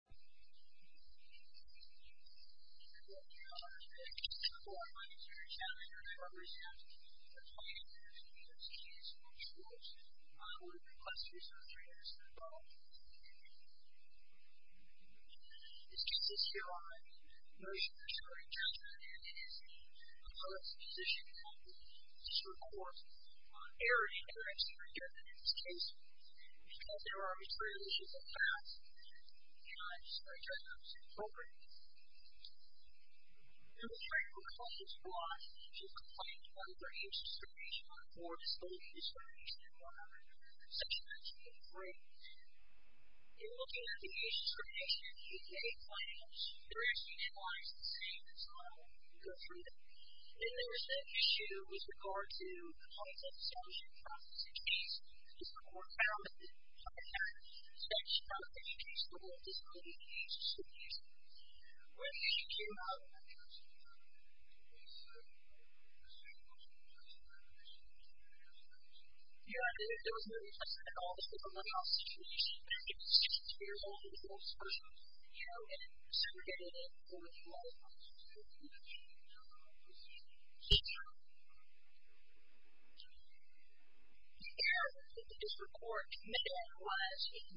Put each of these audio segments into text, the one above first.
This case is here on motion to reject an amnesty, and I would like to position that this report erroneously rejected in this case, because there are these violations of facts, and I accept that. And mostly because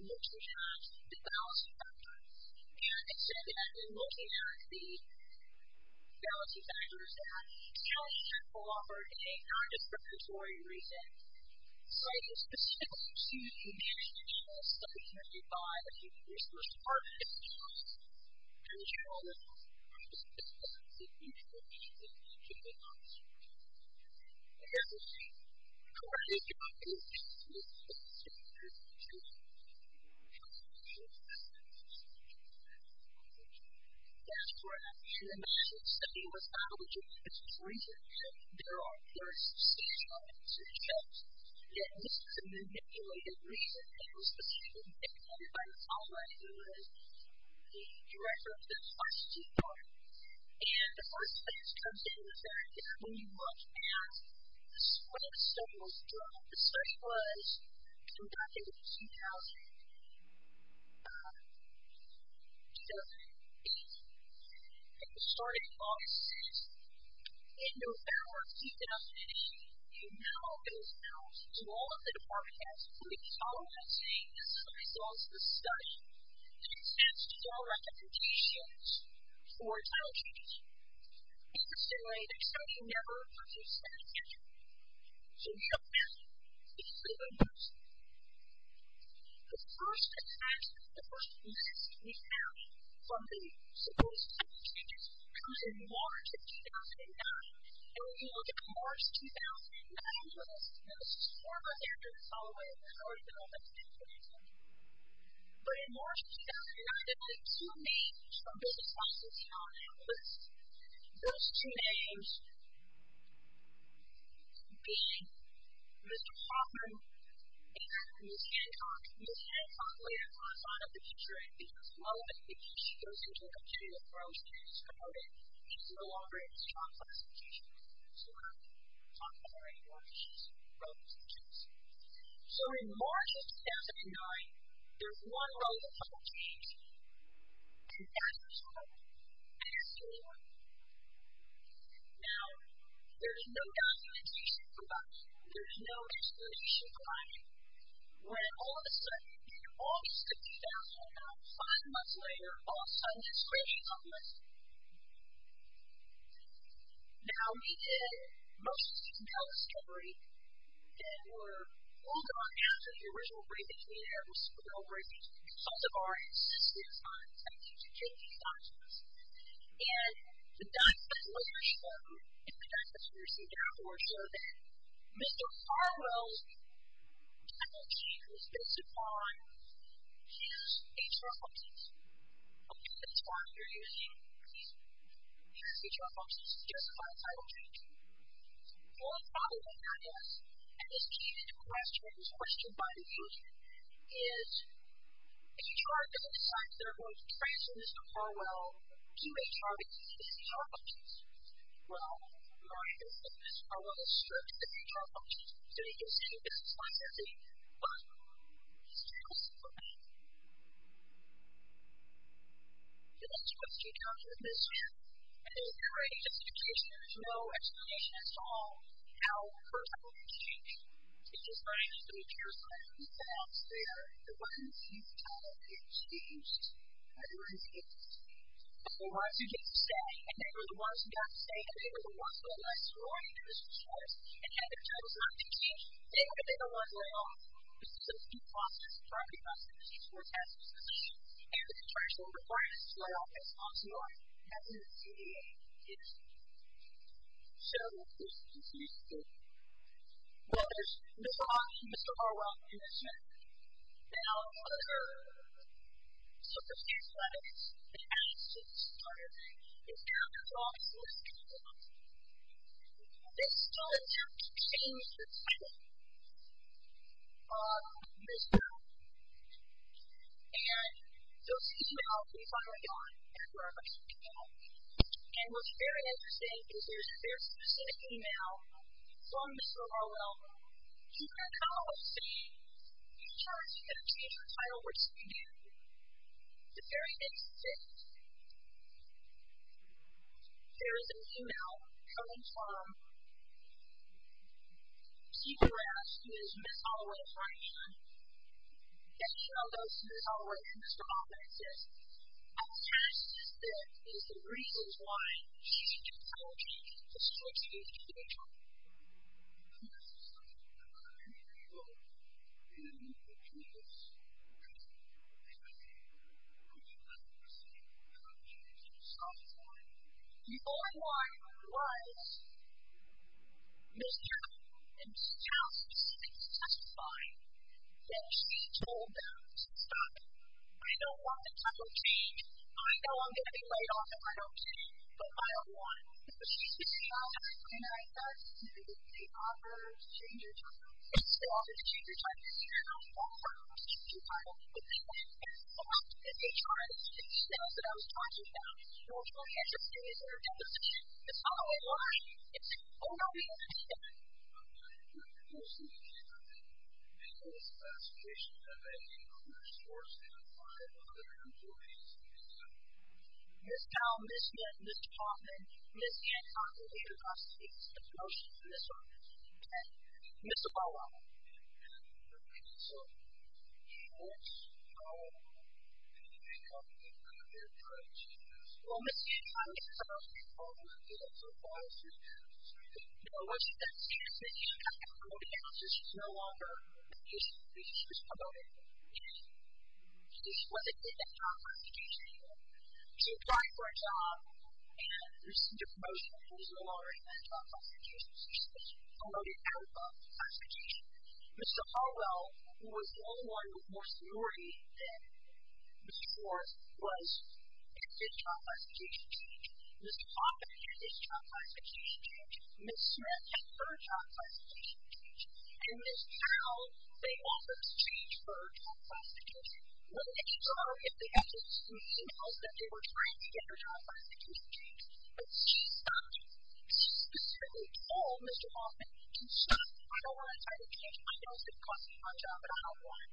of the balancing factors that include the fact that Kelly Sanfle offered a nondisciplinary reason citing specific issue to diminish the amnesty that is granted by the US Department of Justice and its role in this important issue of receiving an amnesty from the New Jersey law enforcement agency. The other reason, Justice Committee staff didn't justice to the bill. That's correct. And I should say it was not a legitimate reason. There are first stage arguments in the case. And this is a manipulated reason that was specifically dictated by the colleague who was the director of the RCT department. And the first thing that comes into the fact is when you look at what the study was doing. The study was conducting since 2008. It was started in August of 2006. In November of 2008, you now, it was announced to all of the department heads including all of them saying this is the result of the study that extends to all recommendations for child change. In a similar way, the study never produced any evidence. So, we don't know if it was an amnesty. The first assessment, the first list we have from the supposed study changes comes in March of 2009. And when you look at March 2009, you'll notice there's this form of evidence all the way over there. I don't even know if that's the case anymore. But in March 2009, there were two names from the study that came out of that list. Those two names being Mr. Hoffman and Ms. Hancock. Ms. Hancock later on thought of the teacher as being as well as a teacher. She goes into a continual growth and is promoted. She's no longer in this job classification. So, we don't talk about her anymore. She's grown as a teacher. So, in March of 2009, there's no explanation provided. Now, there's no documentation provided. There's no explanation provided. When all of a sudden, in August of 2009, five months later, all of a sudden this crazy moment. Now, we did most of these analysis categories that were pulled on after the original briefing. We had a real briefing. We consulted our assistants on study change and change documents. And the documents later show, and the documents we received afterward show that Mr. Harwell's faculty who's based upon his HR focuses, okay, that's why we're using his HR focuses, justified title change. He was following the analysis, and this came to questions, question bindings, is HR doesn't decide if they're going to transfer Mr. Harwell to HR because of his HR focuses. Well, we're not going to do that. Mr. Harwell is served by his HR focuses. So, you can see, this is like the bottom line. So, the next question comes with Ms. Hancock, and there's no writing documentation. There's no explanation at all for title change. It's just like the materials that are out there, the ones used to title change, everyone's used to it. But the ones who didn't stay, and they were the ones who got to stay, and they were the ones who had less sorority than Mr. Schwartz, and had their titles not been changed, they were the ones let off. This is a due process, a property process, each one has its position, and the transfer requirements to let off is Well, there's Ms. Hancock, Mr. Harwell, and Ms. Schmitz. Now, another circumstance that has to be started is after the law was passed, Ms. Hancock changed the title of Ms. Harwell, and those emails were filed on her account, and what's very interesting is there's a very long Mr. Harwell, he went out of state, he tried to get her to change her title, which he didn't. The very next day, there is an email coming from Steve Morales, who is Ms. Harwell's right hand, getting in on those Ms. Harwell and Mr. Harwell texts. What's Mr. Harwell doing? He's trying to get her to change her title. The online was Ms. Harwell, and Ms. Harwell specifically testified that she told them to stop it. I don't want the title changed, I know I'm going to be laid off if I don't change it, but I don't want Ms. Harwell to change her title. They offered to change her title, but they didn't, and they tried to get the emails that I was talking about, and what's really interesting is that her telephone is not online, it's only on the internet. I'm not even going to go see the email. Ms. Powell, Ms. Smith, Ms. Hoffman, Ms. Ann Hoppen, they're not speaking to me, I'm not speaking to Ms. Hoffman. Ms. Harwell. So, what's Ms. Harwell doing? Well, Ms. Harwell is supposed to be calling the telephone, but it wasn't that serious that she got the phone, because she's no longer, she was promoted, she wasn't in that job position anymore. She applied for a job and received a promotion, but she's no longer in that job classification position. She was promoted out of job classification. Ms. Harwell, who was the only one with more seniority than Ms. Schwartz, was, exited job classification change. Ms. Hoffman exited job classification change. Ms. Smith exited her job classification change. And Ms. Powell, they offered to change her job classification, but they tried, and they were trying to get her job classification changed, but she stopped them. She specifically told Mr. Hoffman to stop, I don't want to try to change my job, because it costs me my job, and I don't want it.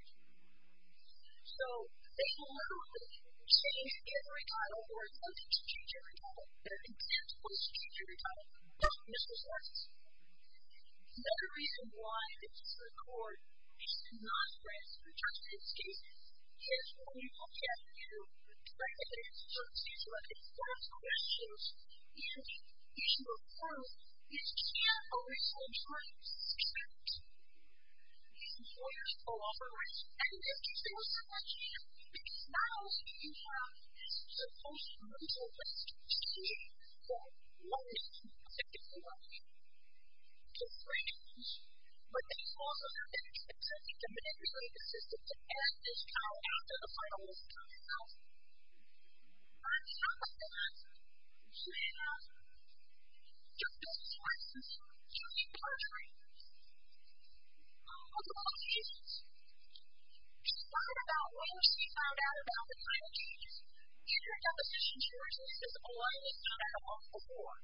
So, they were literally sitting together in the recital, or attempting to change their recital, and attempting to change their recital, both Ms. Schwartz and Ms. Harwell. Another reason why this is a court, this is a non-franciscan justice case, is when you try to answer a case like this, one of the questions is, if you were first, you can't always have joint success. These employers co-operate, and this gives them a second chance, because not only do you have this post-criminal risk to see, that money can affect your life, to friends, but they also have an expectancy to manipulate the system to add this child after the final result has come out. And on top of that, you have Justice Schwartz and Ms. Harwell killing part-timers. With all these, she talked about when she found out about the climate change, and her deposition stories, and this is all I had found out about before.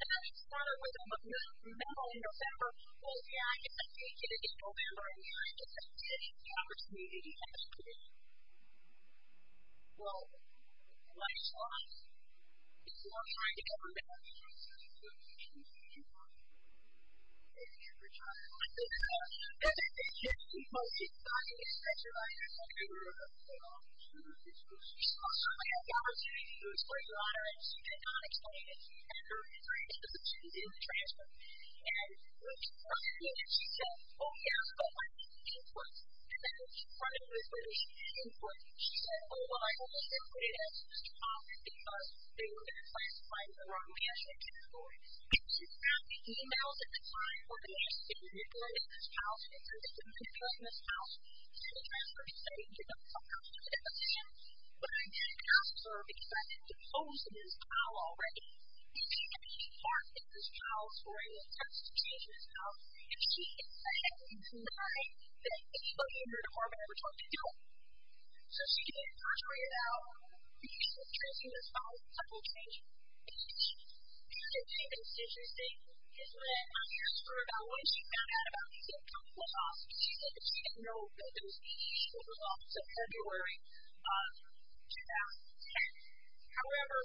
And then it started with a memo in November, well, yeah, I guess I did get it in November, and then I guess I didn't get the opportunity after. Well, then I just lost. So I tried to go to my house and I said, So should we send somebody? And Richard was like, No, no, no, no, no. No. The deputy, Tim Seepoh is to beat him. That's why he was textin' Ryder on Facebook. Yeah, but here's the thing, though. You see, I have gone to the city council board of honor, and she did not explain it, and I heard about this vacancy being transferred, and, well, she was questioning, and she said, Oh, yeah, but why didn't you input? And then, in front of her, she didn't input. She said, Oh, well, I only did what it asked me to talk, because they were going to classify me the wrong way, as they did before. And she sent me emails at the time. Well, they asked me if we were going to make this house. They said, Yes, we're going to make this house. It's going to be transferred. It's going to be given to the public. I said, Yes, I am. But I didn't ask her, because I've been deposed in this house already. And she didn't even talk in this house, or even text to change this house. And she said, I didn't deny that anybody in her department ever talked to me. So, she didn't perjure it out, because she was tracing this house. I didn't change it. And the other thing that's interesting is when I asked her about what she found out about these income plus losses, she said that she didn't know that there was any issue with the loss of February 2010. However,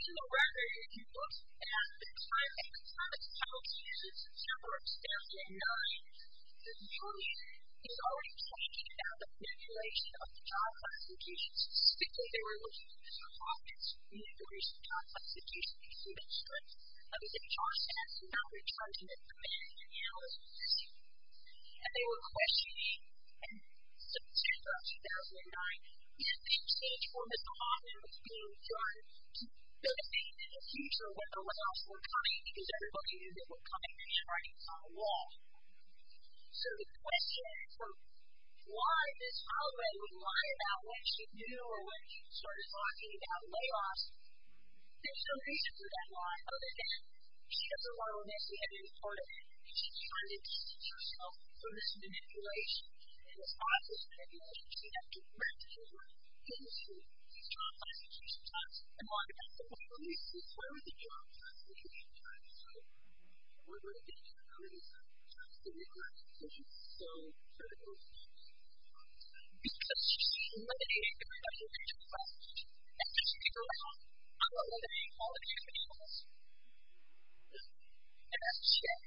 to the record, if you look at the time of the house, which is in September of 2009, the community is already talking about the manipulation of the job classifications. Specifically, they were looking at Mr. Hoffman's manipulation of job classifications through that strike. And the HR staff did not return to them for many, many hours. And they were questioning, in September of 2009, if the exchange for Mr. Hoffman was being done to benefit in the future when the layoffs weren't coming, because everybody knew they weren't coming, and the strike was on the wall. So, the question for why Ms. Hoffman would lie about what she knew or when she started talking about layoffs, there's no reason for that lie, other than she doesn't want to admit she had been a part of it. And she kind of keeps herself from this manipulation. And it's not just manipulation. She has to recognize that she was a part of these job classifications. And while she has to recognize that she was part of the job classifications, she has to recognize that she was so critical of them. Because she's mitigating the consequences of that. And as we go along, I'm not going to name all of these individuals. And that's true.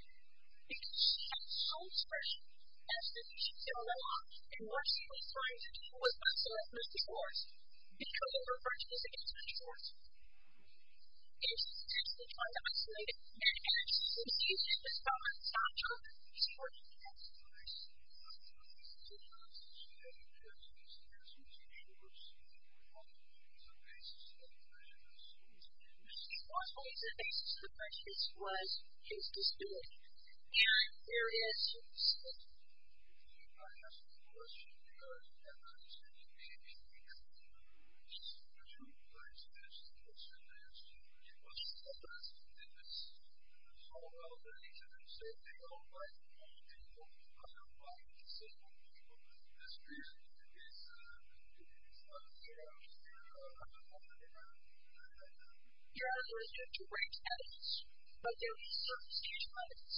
Because she had so much pressure as to do she still went along. And most of these times, it was not selfless divorce. Because of her prejudice against self-divorce. And she's actually trying to isolate it. And as we see in this document, it's not just self-divorce against self-divorce. Yes. Yes. Yes. Okay. Yeah, there was no direct evidence. But there was certain stage f guidelines.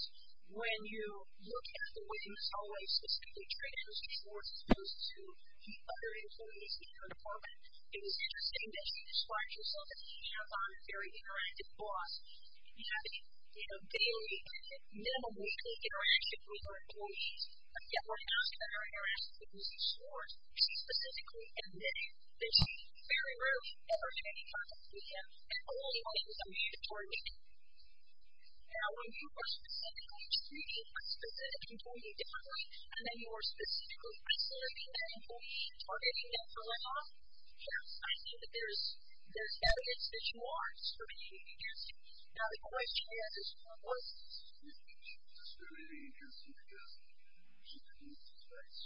When you look at the way Ms. Holloway specifically treats Mr. Schwartz as opposed to the other employees in her department, it was interesting that she described herself as a hands-on, very interactive boss. You have to, you know, daily and minimal weekly interaction with her employees, yet when asked about her interactions with Ms. Schwartz, she specifically admitted that she very rarely ever made contact with them, and only when it was a mandatory meeting. Now, when you are specifically treating one specific employee differently and then you are specifically isolating that employee and targeting them for let-off, yes, I think that there's evidence that you are discriminating against them. Now, the question is, was Ms. Schwartz discriminating against Ms. Holloway because she didn't use those rights?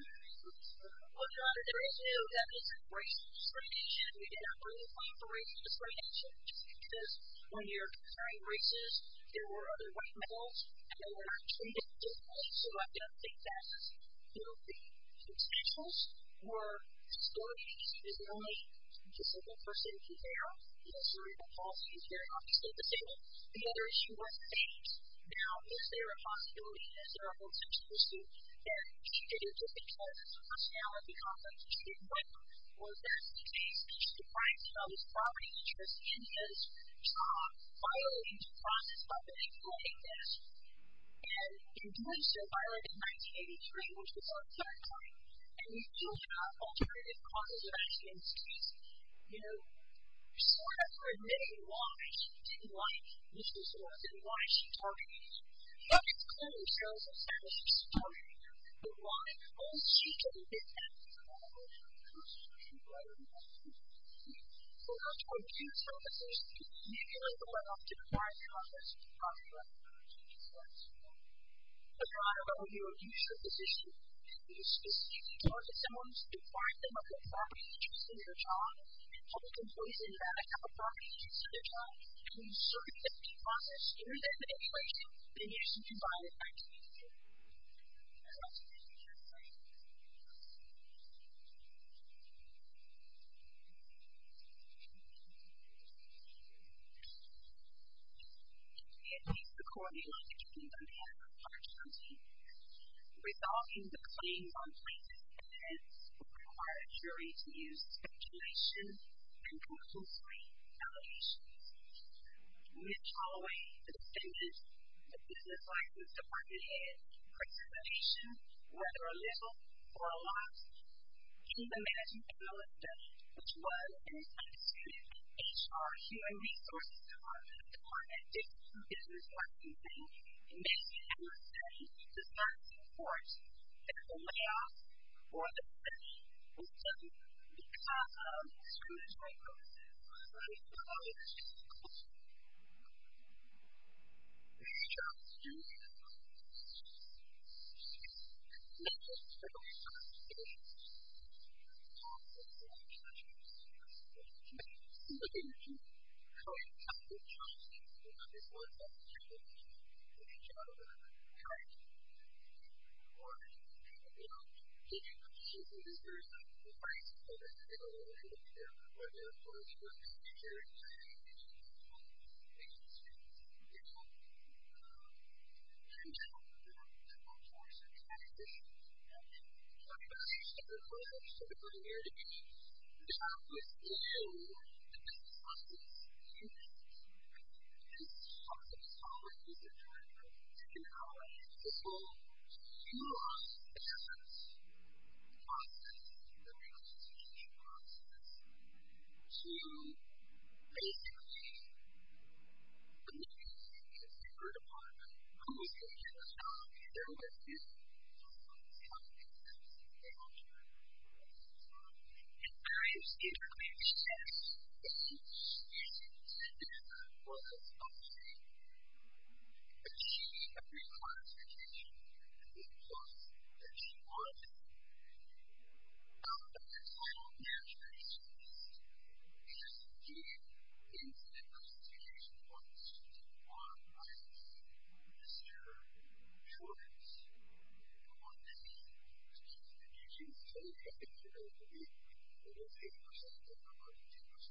Well, John, there is no definite race discrimination. We did not really find the race discrimination, just because when you're comparing races, there were other white males, and they were not treated differently. So I don't think that is, you know, the consensus, were historically he was the only disabled person to care, and his cerebral palsy is very obviously disabled. The other issue was his age. Now, is there a possibility that there are folks in Tennessee that he did it just because of his personality complex, or he didn't want to, or is that the case? He's deprived of his property interest, and he is violating the process of employing this, and in doing so violated 1983, which was our third point, and we do have alternative causes of accidents. He's, you know, sort of admitting why he didn't like Ms. Schwartz and why she targeted him. You have to clear yourself of that. It's a story. But why? Oh, she didn't hit him. I don't know. I don't know. I don't know. So, John, do you think that there is a community like the one I'm talking about in Congress that's deprived of their property rights? Yes. Deprived of only a useful position. It is specific towards someone who's deprived them of their property interest and their job. Public employees are not allowed to have a property interest and their job. And we've sort of emptied the process through them anyway, and they're just being violated by the community. I'd like to take a few questions. It is the court that would like to conclude on behalf of the public court. Resolving the claims on plaintiff's defense would require a jury to use speculation and constitutional evaluations. Mitch Holloway, the defendant, the business license department head, precipitation, whether a little or a lot, in the matching panelist study, which was an instituted HR, human resources department, department of business licensing, and then you have a study to start to enforce that the layoffs or the layoffs coming, those two more statements that we did include are definitely in violation of statutory property rights. And they also are contrary to statutory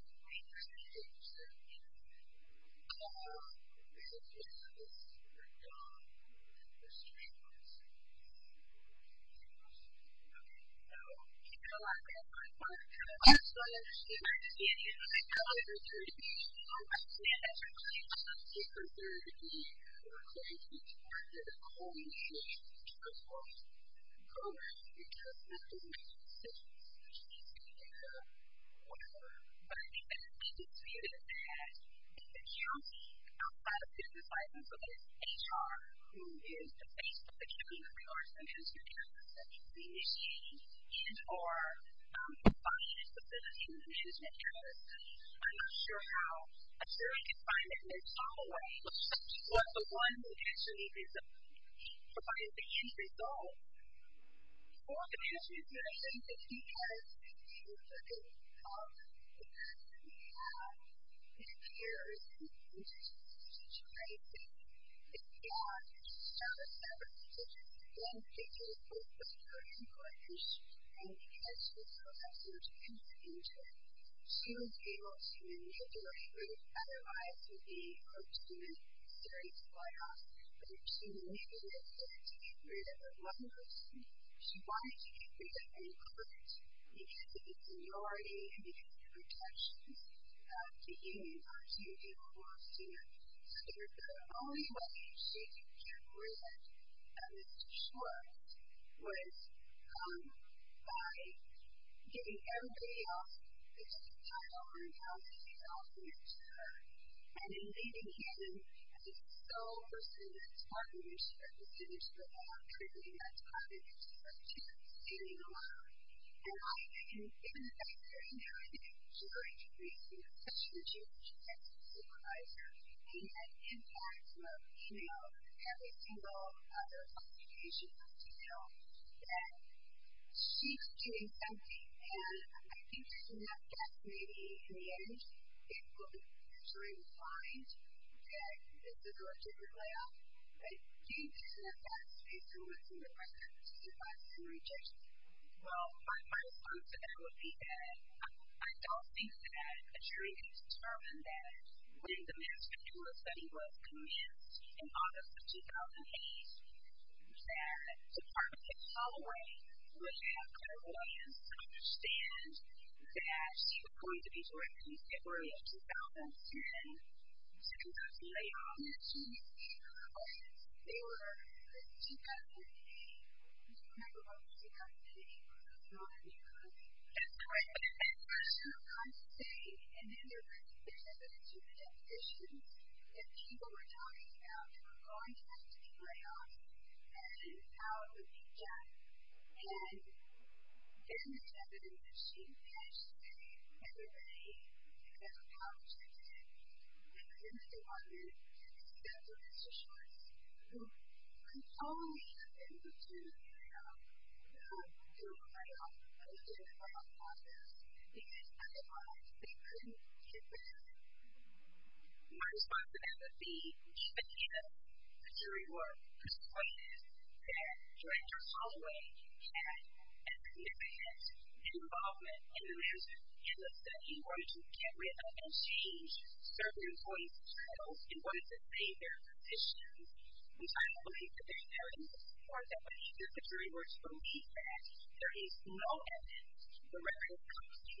heritage. And, so you're 100% right. You have all of that certificate, but you still don't look like you mean everything to me. I mean, we do that to the viewer, but you still don't understand everything that you're trying to dethrone a subject of heritage. And, so, basically, the literature that you've been referred upon, who was the original author, who was the original author of the subject, who was the original author of the book, who was the original author of the book, and various different sets of students, students, students, students, who were the authors of the book, but she, every class, every teacher, who was the author of the book, they were all fanatics of the substance. The gist of the theory, the intellect of the students consultant, were my father, Mr. Jones, the one that native used to help with educations in Southern California, said there used to be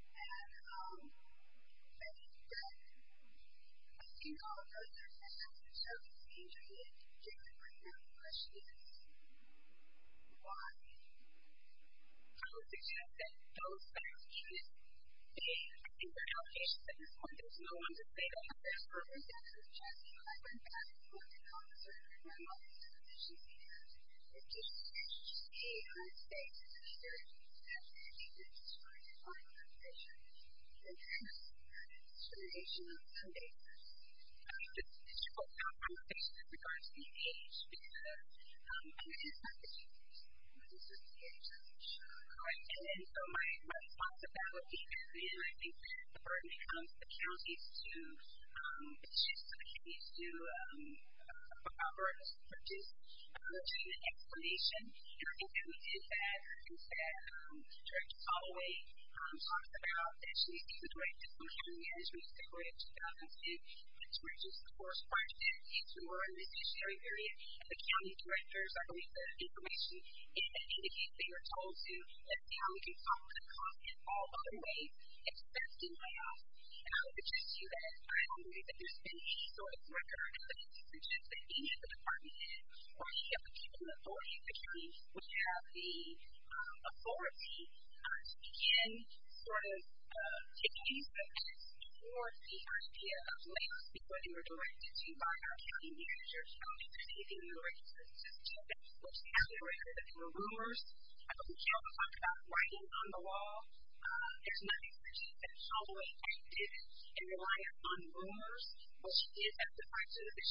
literacy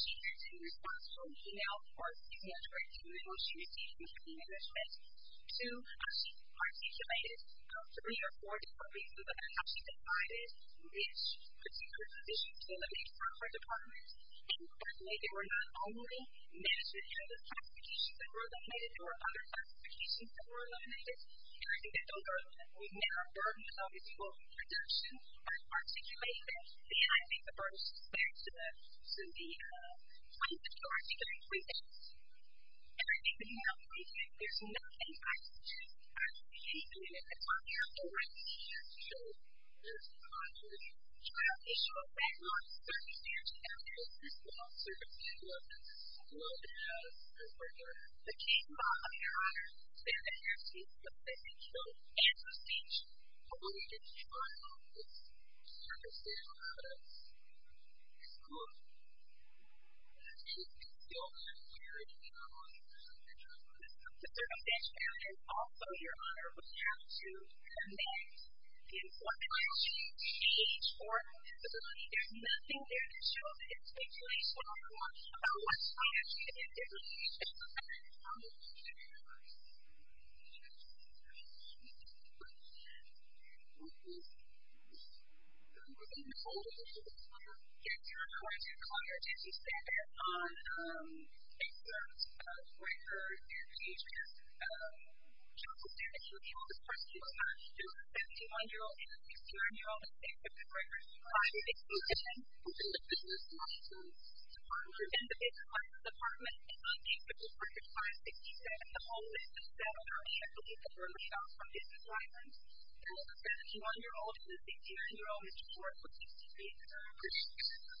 assistants everybody, a lot of literacy assistants, and they were all living just in the street, working in the street, so he had a lot going for him. One of the students, in my understanding, was a college returning student, so I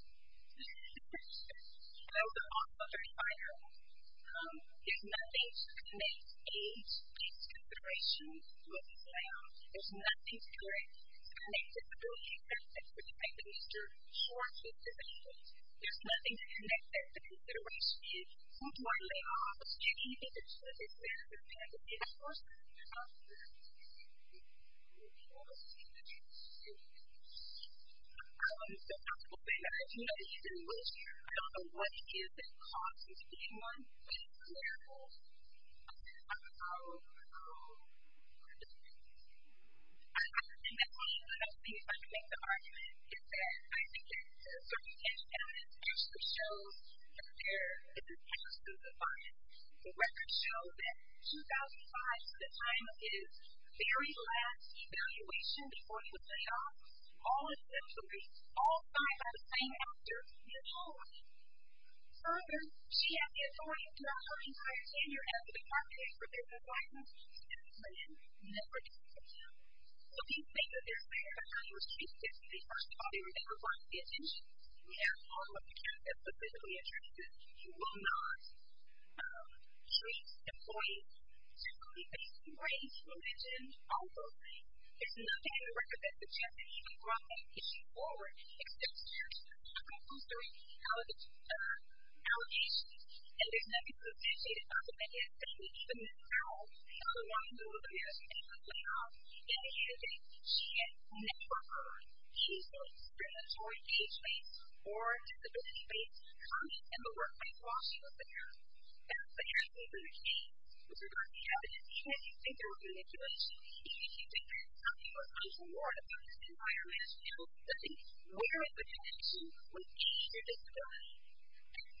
understand that you're going to have to consider that he was going to be part of the whole initiative, as well as the program, because that doesn't make any decisions, which needs to be made by whoever, but I think that the thing to see it as so that is HR, who is the face of the community, of course, has the capacity to be mischievous, and or provide instability when she's mischievous, and I'm not sure how, I'm sure I can find that they're all the way, but she was the one who actually provided the end result. One of the issues that I think that he has, if you look at his past, is that he had, his peers, and his teachers, and his parents, so several teachers, again, teachers, was very important, and because she was so sensitive, and very intimate, she was able to manipulate him, otherwise, he would do a serious buyout, but she manipulated him to get rid of one person. She wanted to get rid of him quick, because of his seniority, and because of the protections that the unions are too able for a student, so the only way she could get rid of Mr. Schwartz was by getting everybody else to just turn over and tell him that he's also Mr. Schwartz, and then leaving him as his sole person that's part of the issue, or considers for that, everything that's part of his structure, standing alone, and I think, in fact, right now, I think she's going to be such a huge supervisor, and in fact, you know, every single other classifications, you know, that she's doing something, and I think there's enough depth, maybe, in the end, it could actually find that this is a different layout, but do you think there's enough depth, based on what's in the records, to find some rejections? Well, my response to that would be that I don't think that the jury has determined that when the mass speculative study was commenced in August of 2008, that the part of it all the way was to have clairvoyance, to understand that she was going to be directly separated in 2010, six months later, and she was in college. They were in 2008. I don't remember when it was in 2008, but it was in 2009. That's correct, and that's what I'm saying, and there's a significant issue that people were talking about, that we're going to have to be clairvoyant, and how the reject had been determined that she finished in February because of college, and they were in the department, and that's what Mr. Schwartz, who was totally in the same area, that was clairvoyant, because otherwise they couldn't get there. My response to that would be that, again, the jury were persuaded that Director Holloway had a significant involvement in the research, in the study, wanted to get rid of and change certain employees' skills, and wanted to stay in their positions, which I believe that there's no need for that, but the jury were told that there is no evidence to the record of competency because that her manipulation is premature, and anything to do with Mr. Schwartz's age or disability and those also being required was specific for the element as regards to the ADA disability discrimination complaint. The final form to that procedural complaint said that the important action that came through was because Mr. Schwartz was saying there is nothing in the record about him as regards to the ADA disability discrimination complaint, so he was required to be transferred. Okay, so, I'm assuming you're a therapy student, right? I was being a therapy student at the time, and I was not being a therapist at the time, for certain reasons, so I'm not sure that there's any data on Mr. Schwartz being hired spot at Mrs. Schwartz's feet or somewhere near Mrs. Schwartz's feet. That is in the record somewhere, and then probably when she came there's evidence that she had already had a with Mr. Schwartz before him, so temporarily with his two request assignments on Mr. Schwartz's feet and his office was completely isolated from the rest of the community that kind of was there. He was in a small studio where he was with everybody else, and so I was there involved in the write-up decisions, which didn't understand what Schwartz did in the office, and I think that